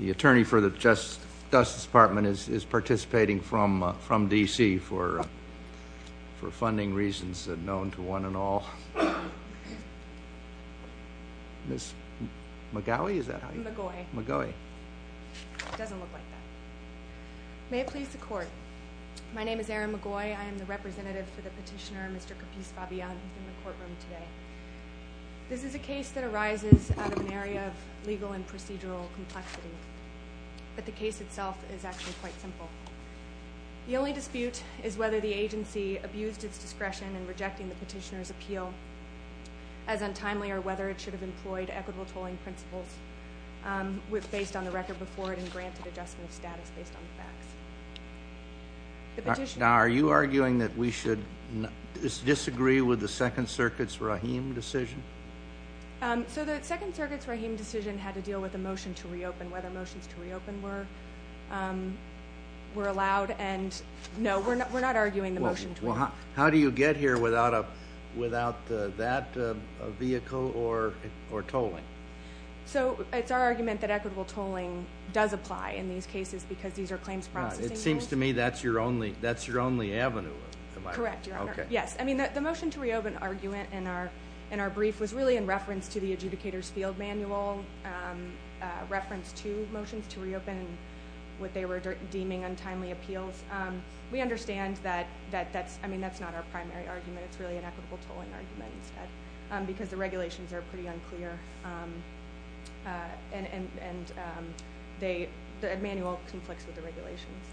The attorney for the Justice Department is participating from D.C. for funding reasons known to one and all. Ms. McGaughy? Is that how you say it? McGaughy. McGaughy. It doesn't look like that. May it please the Court. My name is Erin McGaughy. I am the representative for the petitioner, Mr. Capiz-Fabian, who is in the courtroom today. This is a case that arises out of an area of legal and procedural complexity, but the case itself is actually quite simple. The only dispute is whether the agency abused its discretion in rejecting the petitioner's appeal as untimely or whether it should have employed equitable tolling principles based on the record before it and granted adjustment of status based on the facts. The petitioner. Now, are you arguing that we should disagree with the Second Circuit's Rahim decision? So the Second Circuit's Rahim decision had to deal with a motion to reopen, whether motions to reopen were allowed. No, we're not arguing the motion to reopen. How do you get here without that vehicle or tolling? So it's our argument that equitable tolling does apply in these cases because these are claims processing units. It seems to me that's your only avenue. Correct, Your Honor. Yes. I mean, the motion to reopen argument in our brief was really in reference to the adjudicator's field manual reference to motions to reopen and what they were deeming untimely appeals. We understand that that's not our primary argument. It's really an equitable tolling argument instead because the regulations are pretty unclear and the manual conflicts with the regulations.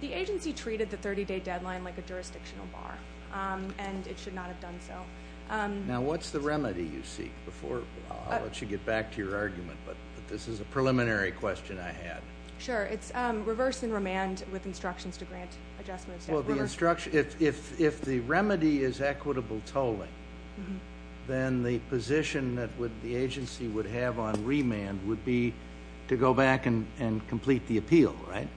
The agency treated the 30-day deadline like a jurisdictional bar, and it should not have done so. Now, what's the remedy you seek? I'll let you get back to your argument, but this is a preliminary question I had. Sure. It's reverse and remand with instructions to grant adjustment of status. If the remedy is equitable tolling, then the position that the agency would have on remand would be to go back and complete the appeal, right?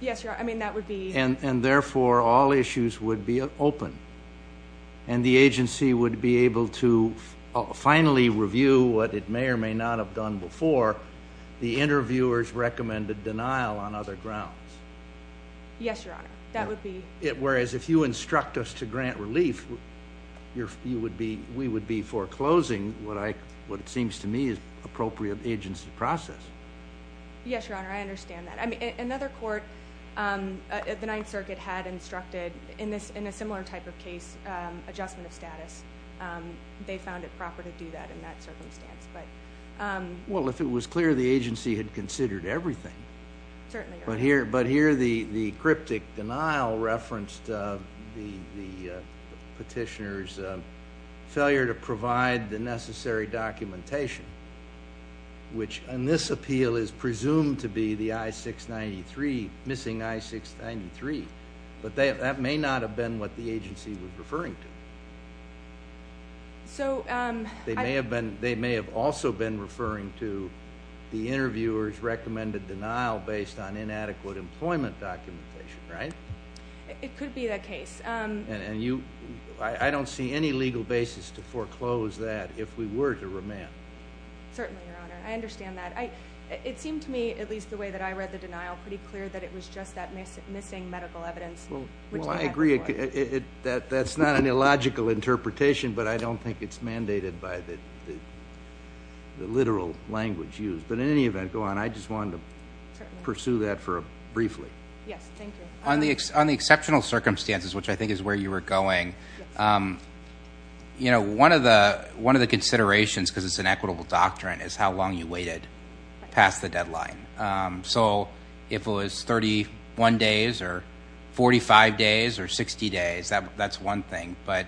Yes, Your Honor. And therefore, all issues would be open, and the agency would be able to finally review what it may or may not have done before, the interviewer's recommended denial on other grounds. Yes, Your Honor. Whereas if you instruct us to grant relief, we would be foreclosing what it seems to me is appropriate agency process. Yes, Your Honor. I understand that. Another court at the Ninth Circuit had instructed, in a similar type of case, adjustment of status. They found it proper to do that in that circumstance. Well, if it was clear the agency had considered everything. Certainly. But here the cryptic denial referenced the petitioner's failure to provide the necessary documentation, which in this appeal is presumed to be the I-693, missing I-693. But that may not have been what the agency was referring to. They may have also been referring to the interviewer's recommended denial based on inadequate employment documentation, right? It could be that case. And I don't see any legal basis to foreclose that if we were to remand. Certainly, Your Honor. I understand that. It seemed to me, at least the way that I read the denial, pretty clear that it was just that missing medical evidence. Well, I agree. That's not an illogical interpretation, but I don't think it's mandated by the literal language used. But in any event, go on. I just wanted to pursue that briefly. Yes, thank you. On the exceptional circumstances, which I think is where you were going, one of the considerations, because it's an equitable doctrine, is how long you waited past the deadline. So if it was 31 days or 45 days or 60 days, that's one thing. But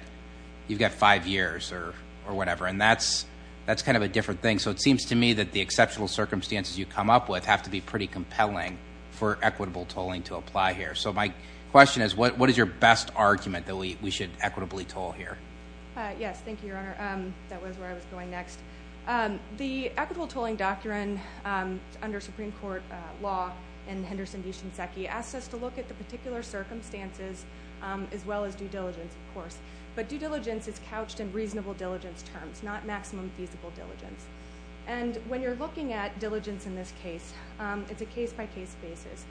you've got five years or whatever, and that's kind of a different thing. So it seems to me that the exceptional circumstances you come up with have to be pretty compelling for equitable tolling to apply here. So my question is, what is your best argument that we should equitably toll here? Yes, thank you, Your Honor. That was where I was going next. The equitable tolling doctrine under Supreme Court law and Henderson v. Shinseki asks us to look at the particular circumstances as well as due diligence, of course. But due diligence is couched in reasonable diligence terms, not maximum feasible diligence. And when you're looking at diligence in this case, it's a case-by-case basis.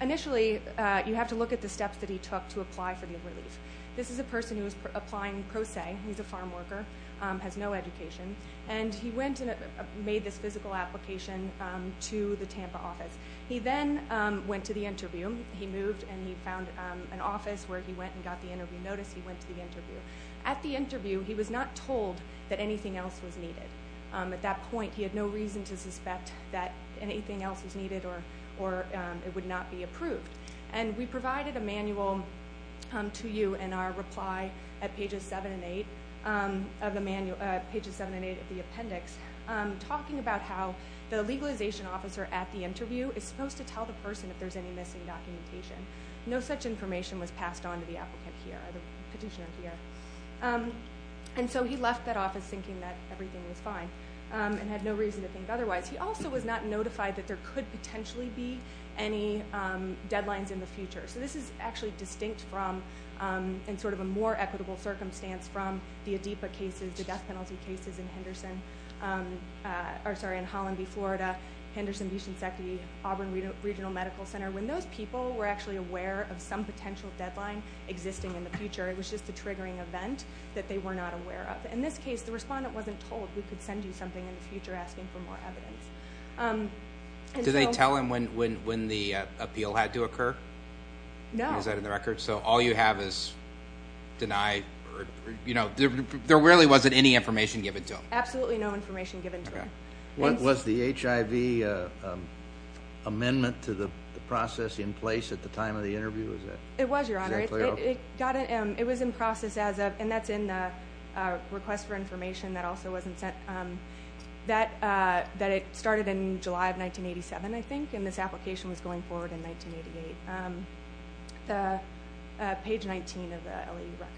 Initially, you have to look at the steps that he took to apply for the relief. This is a person who is applying pro se. He's a farm worker, has no education. And he made this physical application to the Tampa office. He then went to the interview. He moved and he found an office where he went and got the interview notice. He went to the interview. At the interview, he was not told that anything else was needed. At that point, he had no reason to suspect that anything else was needed or it would not be approved. And we provided a manual to you in our reply at pages 7 and 8 of the appendix talking about how the legalization officer at the interview is supposed to tell the person if there's any missing documentation. No such information was passed on to the applicant here or the petitioner here. And so he left that office thinking that everything was fine and had no reason to think otherwise. He also was not notified that there could potentially be any deadlines in the future. So this is actually distinct from and sort of a more equitable circumstance from the ADEPA cases, the death penalty cases in Holland v. Florida, Henderson v. Shinseki, Auburn Regional Medical Center. When those people were actually aware of some potential deadline existing in the future, it was just a triggering event that they were not aware of. In this case, the respondent wasn't told we could send you something in the future asking for more evidence. Did they tell him when the appeal had to occur? No. So all you have is deny or, you know, there really wasn't any information given to him. Absolutely no information given to him. Was the HIV amendment to the process in place at the time of the interview? It was, Your Honor. It was in process as of, and that's in the request for information that also wasn't sent. That it started in July of 1987, I think, and this application was going forward in 1988, page 19 of the LEU record.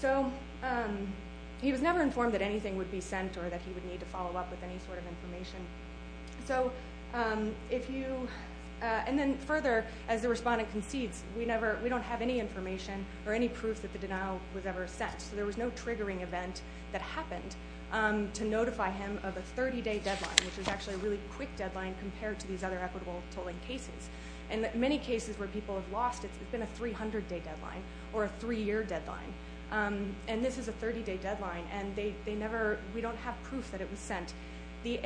So he was never informed that anything would be sent or that he would need to follow up with any sort of information. And then further, as the respondent concedes, we don't have any information or any proof that the denial was ever sent. So there was no triggering event that happened to notify him of a 30-day deadline, which was actually a really quick deadline compared to these other equitable tolling cases. In many cases where people have lost, it's been a 300-day deadline or a three-year deadline. And this is a 30-day deadline, and they never, we don't have proof that it was sent. The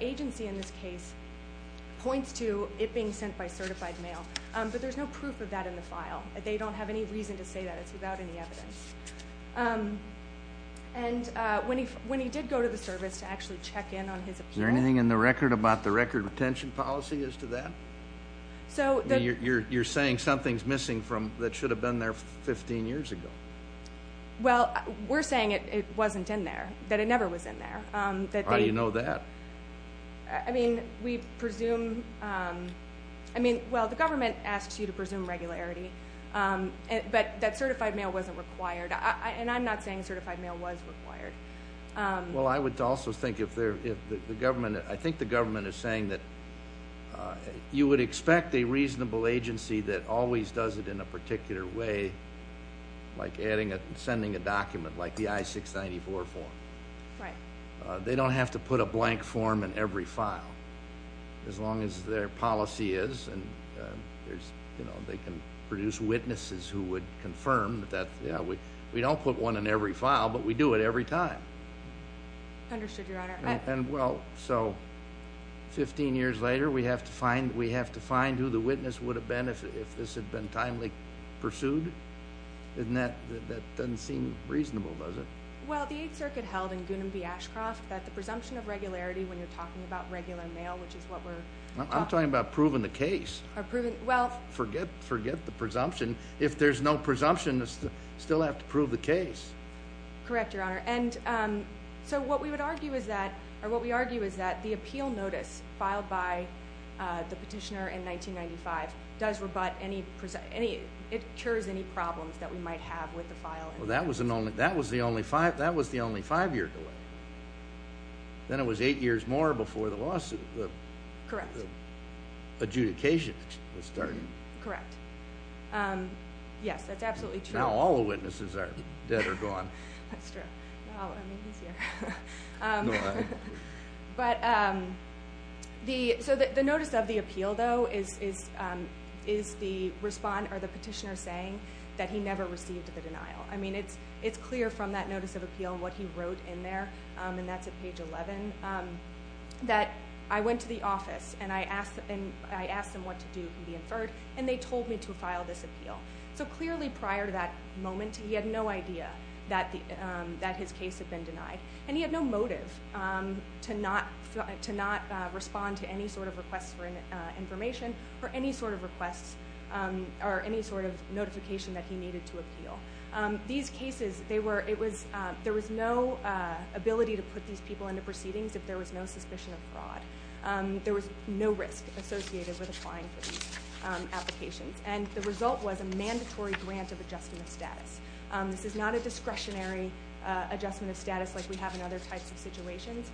agency in this case points to it being sent by certified mail, but there's no proof of that in the file. They don't have any reason to say that. It's without any evidence. And when he did go to the service to actually check in on his appeal. Is there anything in the record about the record retention policy as to that? You're saying something's missing that should have been there 15 years ago. Well, we're saying it wasn't in there, that it never was in there. How do you know that? I mean, we presume, I mean, well, the government asks you to presume regularity, but that certified mail wasn't required. And I'm not saying certified mail was required. Well, I would also think if the government, I think the government is saying that you would expect a reasonable agency that always does it in a particular way, like sending a document like the I-694 form. Right. They don't have to put a blank form in every file, as long as their policy is. And, you know, they can produce witnesses who would confirm that. We don't put one in every file, but we do it every time. Understood, Your Honor. And, well, so 15 years later we have to find who the witness would have been if this had been timely pursued? That doesn't seem reasonable, does it? Well, the Eighth Circuit held in Goonam v. Ashcroft that the presumption of regularity when you're talking about regular mail, which is what we're talking about. I'm talking about proving the case. Forget the presumption. If there's no presumption, you still have to prove the case. Correct, Your Honor. And so what we would argue is that, or what we argue is that the appeal notice filed by the petitioner in 1995 does rebut any, it cures any problems that we might have with the file. Well, that was the only five-year delay. Then it was eight years more before the lawsuit. Correct. The adjudication was starting. Correct. Yes, that's absolutely true. Now all the witnesses are dead or gone. That's true. So the notice of the appeal, though, is the petitioner saying that he never received the denial. I mean, it's clear from that notice of appeal and what he wrote in there, and that's at page 11, that I went to the office and I asked them what to do to be inferred, and they told me to file this appeal. So clearly prior to that moment, he had no idea that his case had been denied, and he had no motive to not respond to any sort of request for information or any sort of request or any sort of notification that he needed to appeal. These cases, there was no ability to put these people into proceedings if there was no suspicion of fraud. There was no risk associated with applying for these applications, This is not a discretionary adjustment of status like we have in other types of situations.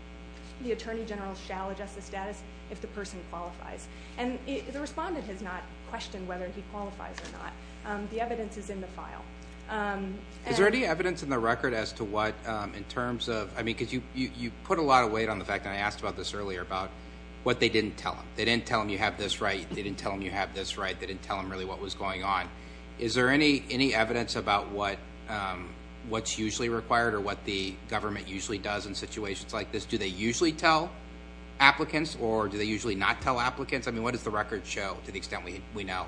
The attorney general shall adjust the status if the person qualifies. And the respondent has not questioned whether he qualifies or not. The evidence is in the file. Is there any evidence in the record as to what, in terms of, I mean, because you put a lot of weight on the fact, and I asked about this earlier, about what they didn't tell him. They didn't tell him you have this right. They didn't tell him you have this right. They didn't tell him really what was going on. Is there any evidence about what's usually required or what the government usually does in situations like this? Do they usually tell applicants, or do they usually not tell applicants? I mean, what does the record show to the extent we know?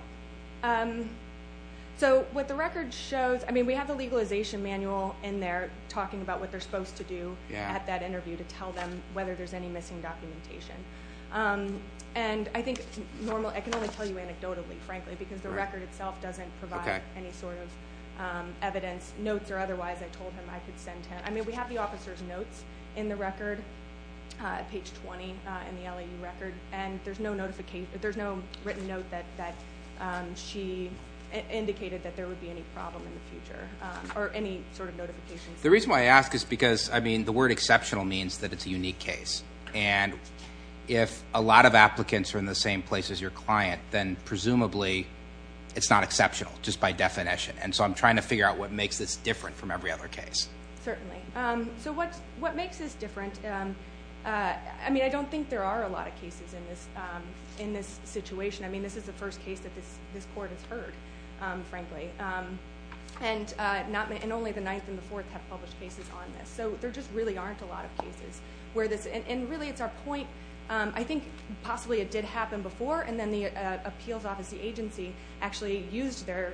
So what the record shows, I mean, we have the legalization manual in there talking about what they're supposed to do at that interview to tell them whether there's any missing documentation. And I think normally, I can only tell you anecdotally, frankly, because the record itself doesn't provide any sort of evidence, notes, or otherwise I told him I could send to him. I mean, we have the officer's notes in the record, page 20 in the LEU record, and there's no written note that she indicated that there would be any problem in the future, or any sort of notifications. The reason why I ask is because, I mean, the word exceptional means that it's a unique case. And if a lot of applicants are in the same place as your client, then presumably it's not exceptional, just by definition. And so I'm trying to figure out what makes this different from every other case. Certainly. So what makes this different? I mean, I don't think there are a lot of cases in this situation. I mean, this is the first case that this court has heard, frankly, and only the ninth and the fourth have published cases on this. So there just really aren't a lot of cases. And really, it's our point. I think possibly it did happen before, and then the appeals office agency actually used their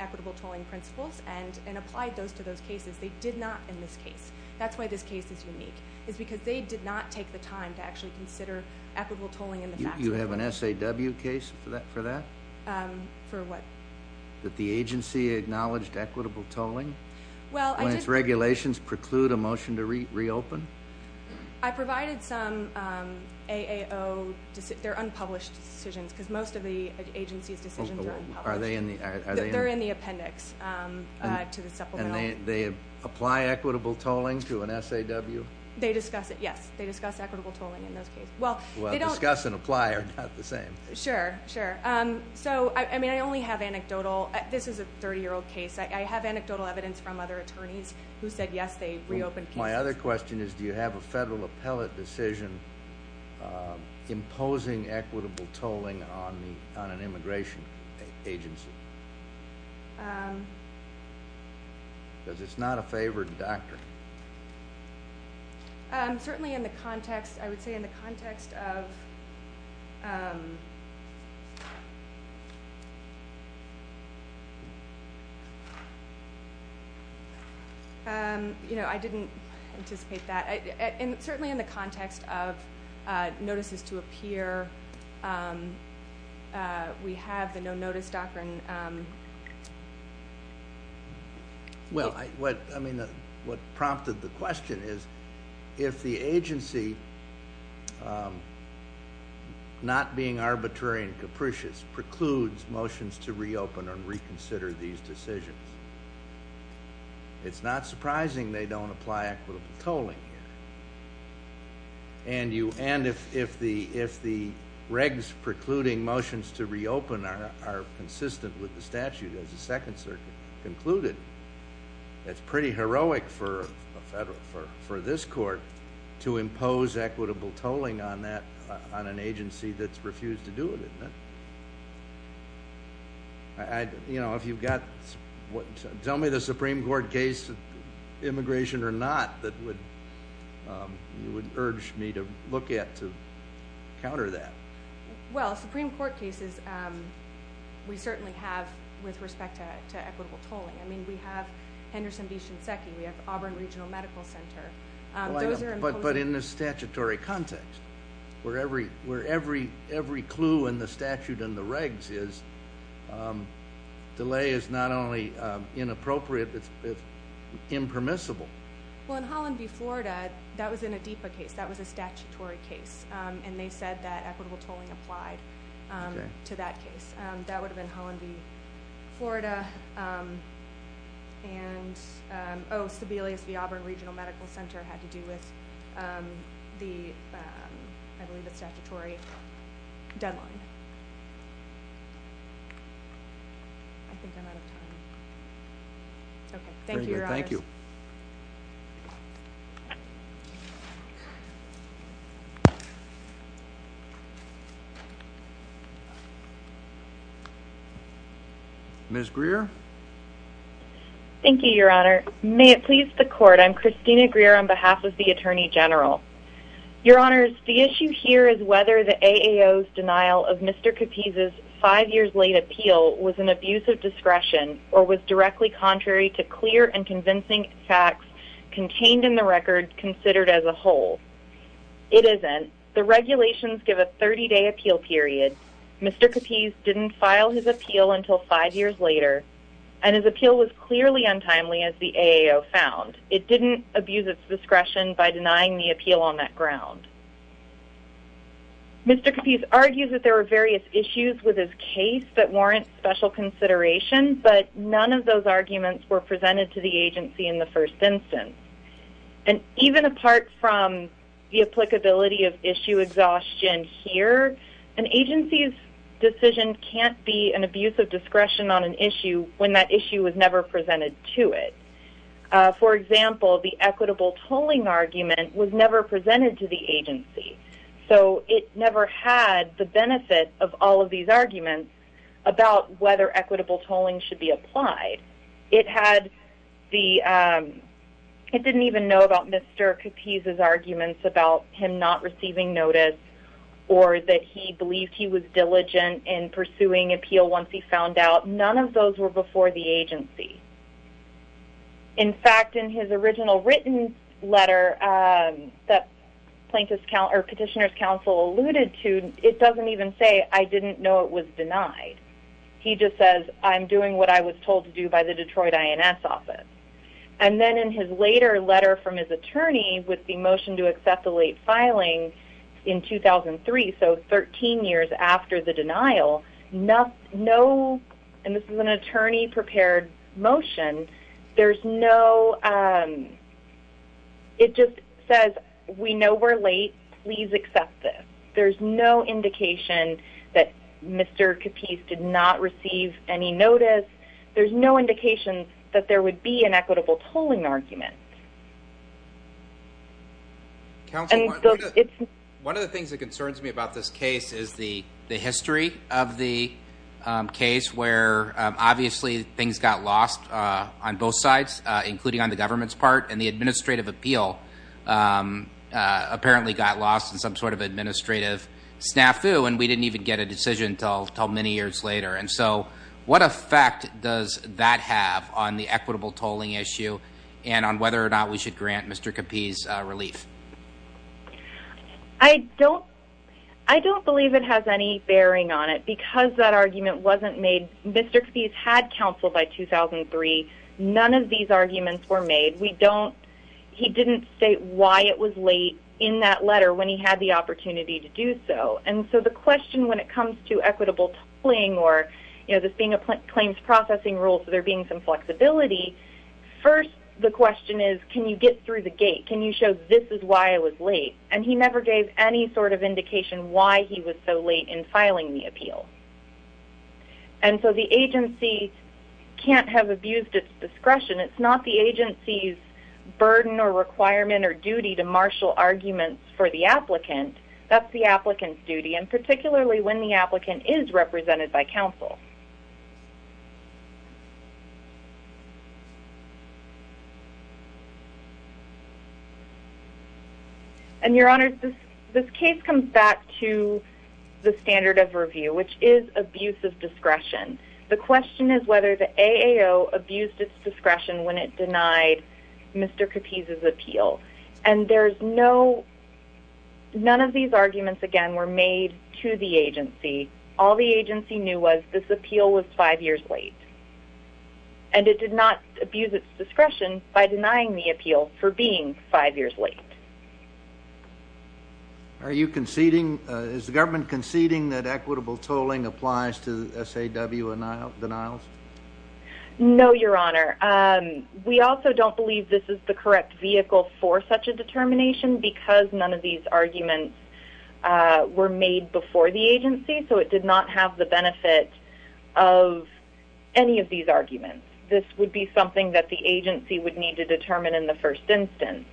equitable tolling principles and applied those to those cases. They did not in this case. That's why this case is unique, is because they did not take the time to actually consider equitable tolling. You have an SAW case for that? For what? That the agency acknowledged equitable tolling? Well, I did. When its regulations preclude a motion to reopen? I provided some AAO unpublished decisions, because most of the agency's decisions are unpublished. They're in the appendix to the supplemental. And they apply equitable tolling to an SAW? They discuss it, yes. They discuss equitable tolling in those cases. Well, discuss and apply are not the same. Sure, sure. So, I mean, I only have anecdotal. This is a 30-year-old case. I have anecdotal evidence from other attorneys who said, yes, they reopened cases. My other question is, do you have a federal appellate decision imposing equitable tolling on an immigration agency? Because it's not a favored doctrine. Certainly in the context, I would say in the context of ‑‑ I didn't anticipate that. Certainly in the context of notices to appear, we have the no-notice doctrine. Well, I mean, what prompted the question is, if the agency, not being arbitrary and capricious, precludes motions to reopen and reconsider these decisions, it's not surprising they don't apply equitable tolling. And if the regs precluding motions to reopen are consistent with the statute as the Second Circuit concluded, it's pretty heroic for this court to impose equitable tolling on that, on an agency that's refused to do it, isn't it? You know, if you've got ‑‑ tell me the Supreme Court case, immigration or not, that you would urge me to look at to counter that. Well, Supreme Court cases, we certainly have, with respect to equitable tolling. I mean, we have Henderson v. Shinseki. We have Auburn Regional Medical Center. But in the statutory context, where every clue in the statute and the regs is, delay is not only inappropriate, it's impermissible. Well, in Holland v. Florida, that was in a DEPA case. That was a statutory case. And they said that equitable tolling applied to that case. That would have been Holland v. Florida. And, oh, Sebelius v. Auburn Regional Medical Center had to do with the, I believe it's statutory, deadline. I think I'm out of time. Okay. Thank you, Your Honors. Thank you. Ms. Greer. Thank you, Your Honor. May it please the Court, I'm Christina Greer on behalf of the Attorney General. Your Honors, the issue here is whether the AAO's denial of Mr. Capiz's five years late appeal was an abuse of discretion or was directly contrary to clear and convincing facts contained in the record considered as a whole. It isn't. The regulations give a 30-day appeal period. Mr. Capiz didn't file his appeal until five years later. And his appeal was clearly untimely, as the AAO found. It didn't abuse its discretion by denying the appeal on that ground. Mr. Capiz argues that there were various issues with his case that warrant special consideration, but none of those arguments were presented to the agency in the first instance. And even apart from the applicability of issue exhaustion here, an agency's decision can't be an abuse of discretion on an issue when that issue was never presented to it. For example, the equitable tolling argument was never presented to the agency. So it never had the benefit of all of these arguments about whether equitable tolling should be applied. It didn't even know about Mr. Capiz's arguments about him not receiving notice or that he believed he was diligent in pursuing appeal once he found out. None of those were before the agency. In fact, in his original written letter that Petitioner's Counsel alluded to, it doesn't even say, I didn't know it was denied. He just says, I'm doing what I was told to do by the Detroit INS office. And then in his later letter from his attorney with the motion to accept the late filing in 2003, so 13 years after the denial, no, and this is an attorney-prepared motion, there's no, it just says, we know we're late. Please accept this. There's no indication that Mr. Capiz did not receive any notice. There's no indication that there would be an equitable tolling argument. One of the things that concerns me about this case is the history of the case where obviously things got lost on both sides, including on the government's part, and the administrative appeal apparently got lost in some sort of administrative snafu, and we didn't even get a decision until many years later. And so what effect does that have on the equitable tolling issue and on whether or not we should grant Mr. Capiz relief? I don't believe it has any bearing on it because that argument wasn't made. Mr. Capiz had counsel by 2003. None of these arguments were made. We don't, he didn't state why it was late in that letter when he had the opportunity to do so. And so the question when it comes to equitable tolling or, you know, this being a claims processing rule, so there being some flexibility, first the question is, can you get through the gate? Can you show this is why it was late? And he never gave any sort of indication why he was so late in filing the appeal. And so the agency can't have abused its discretion. It's not the agency's burden or requirement or duty to marshal arguments for the applicant. That's the applicant's duty, and particularly when the applicant is represented by counsel. And, Your Honor, this case comes back to the standard of review, which is abuse of discretion. The question is whether the AAO abused its discretion when it denied Mr. Capiz's appeal. And there's no, none of these arguments, again, were made to the agency. All the agency knew was this appealed to Mr. Capiz. And it did not abuse its discretion by denying the appeal for being five years late. Are you conceding, is the government conceding that equitable tolling applies to SAW denials? No, Your Honor. We also don't believe this is the correct vehicle for such a determination because none of these arguments were made before the agency, so it did not have the benefit of any of these arguments. This would be something that the agency would need to determine in the first instance.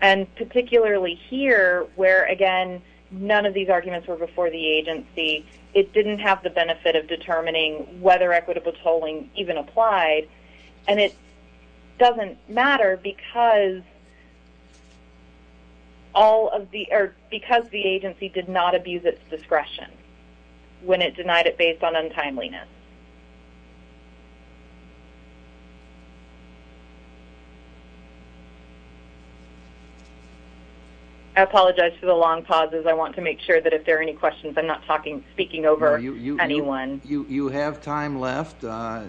And particularly here, where, again, none of these arguments were before the agency, it didn't have the benefit of determining whether equitable tolling even applied. And it doesn't matter because all of the, because the agency did not abuse its discretion when it denied it based on untimeliness. I apologize for the long pauses. I want to make sure that if there are any questions, I'm not speaking over anyone. You have time left. I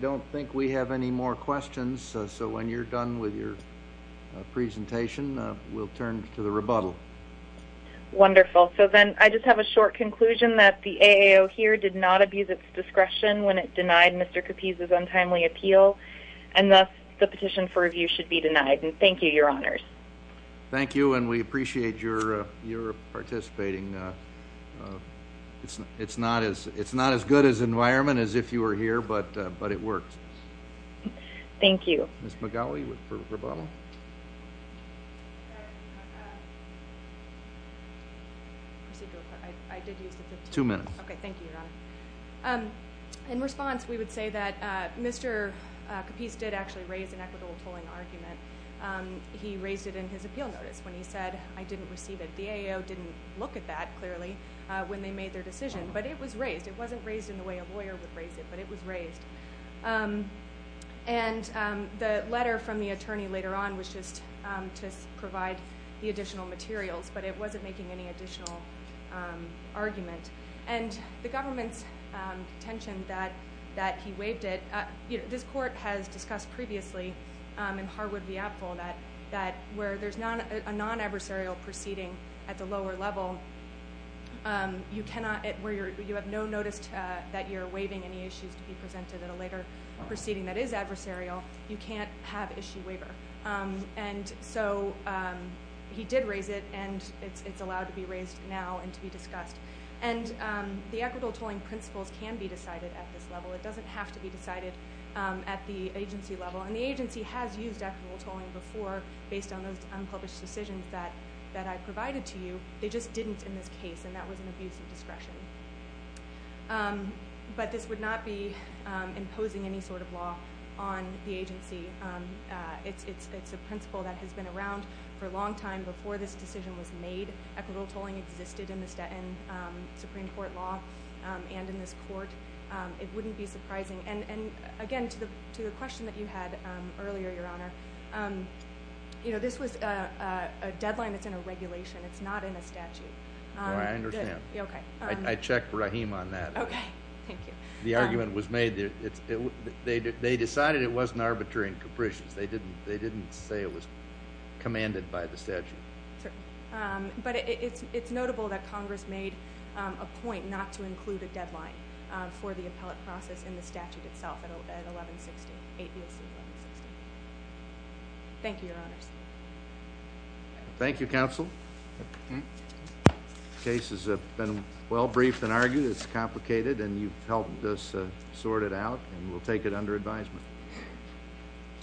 don't think we have any more questions, so when you're done with your presentation, we'll turn to the rebuttal. Wonderful. So then I just have a short conclusion that the AAO here did not abuse its discretion when it denied Mr. Capiz's untimely appeal, and thus the petition for review should be denied. And thank you, Your Honors. Thank you, and we appreciate your participating. It's not as good as environment as if you were here, but it worked. Thank you. Ms. McGowey for rebuttal. Two minutes. Okay, thank you, Your Honor. In response, we would say that Mr. Capiz did actually raise an equitable tolling argument. He raised it in his appeal notice when he said, I didn't receive it. The AAO didn't look at that, clearly, when they made their decision, but it was raised. It wasn't raised in the way a lawyer would raise it, but it was raised. And the letter from the attorney later on was just to provide the additional materials, but it wasn't making any additional argument. And the government's contention that he waived it, this court has discussed previously in Harwood v. Apfel that where there's a non-adversarial proceeding at the lower level, you have no notice that you're waiving any issues to be presented at a later proceeding that is adversarial. You can't have issue waiver. And so he did raise it, and it's allowed to be raised now and to be discussed. And the equitable tolling principles can be decided at this level. It doesn't have to be decided at the agency level. And the agency has used equitable tolling before based on those unpublished decisions that I provided to you. They just didn't in this case, and that was an abuse of discretion. But this would not be imposing any sort of law on the agency. It's a principle that has been around for a long time. Before this decision was made, equitable tolling existed in the Supreme Court law and in this court. It wouldn't be surprising. And again, to the question that you had earlier, Your Honor, you know, this was a deadline that's in a regulation. It's not in a statute. No, I understand. Okay. I checked Rahim on that. Okay. Thank you. The argument was made that they decided it wasn't arbitrary and capricious. They didn't say it was commanded by the statute. Sure. But it's notable that Congress made a point not to include a deadline for the appellate process in the statute itself at 1160, 8 BLC 1160. Thank you, Your Honors. Thank you, Counsel. The case has been well briefed and argued. It's complicated, and you've helped us sort it out, and we'll take it under advisement.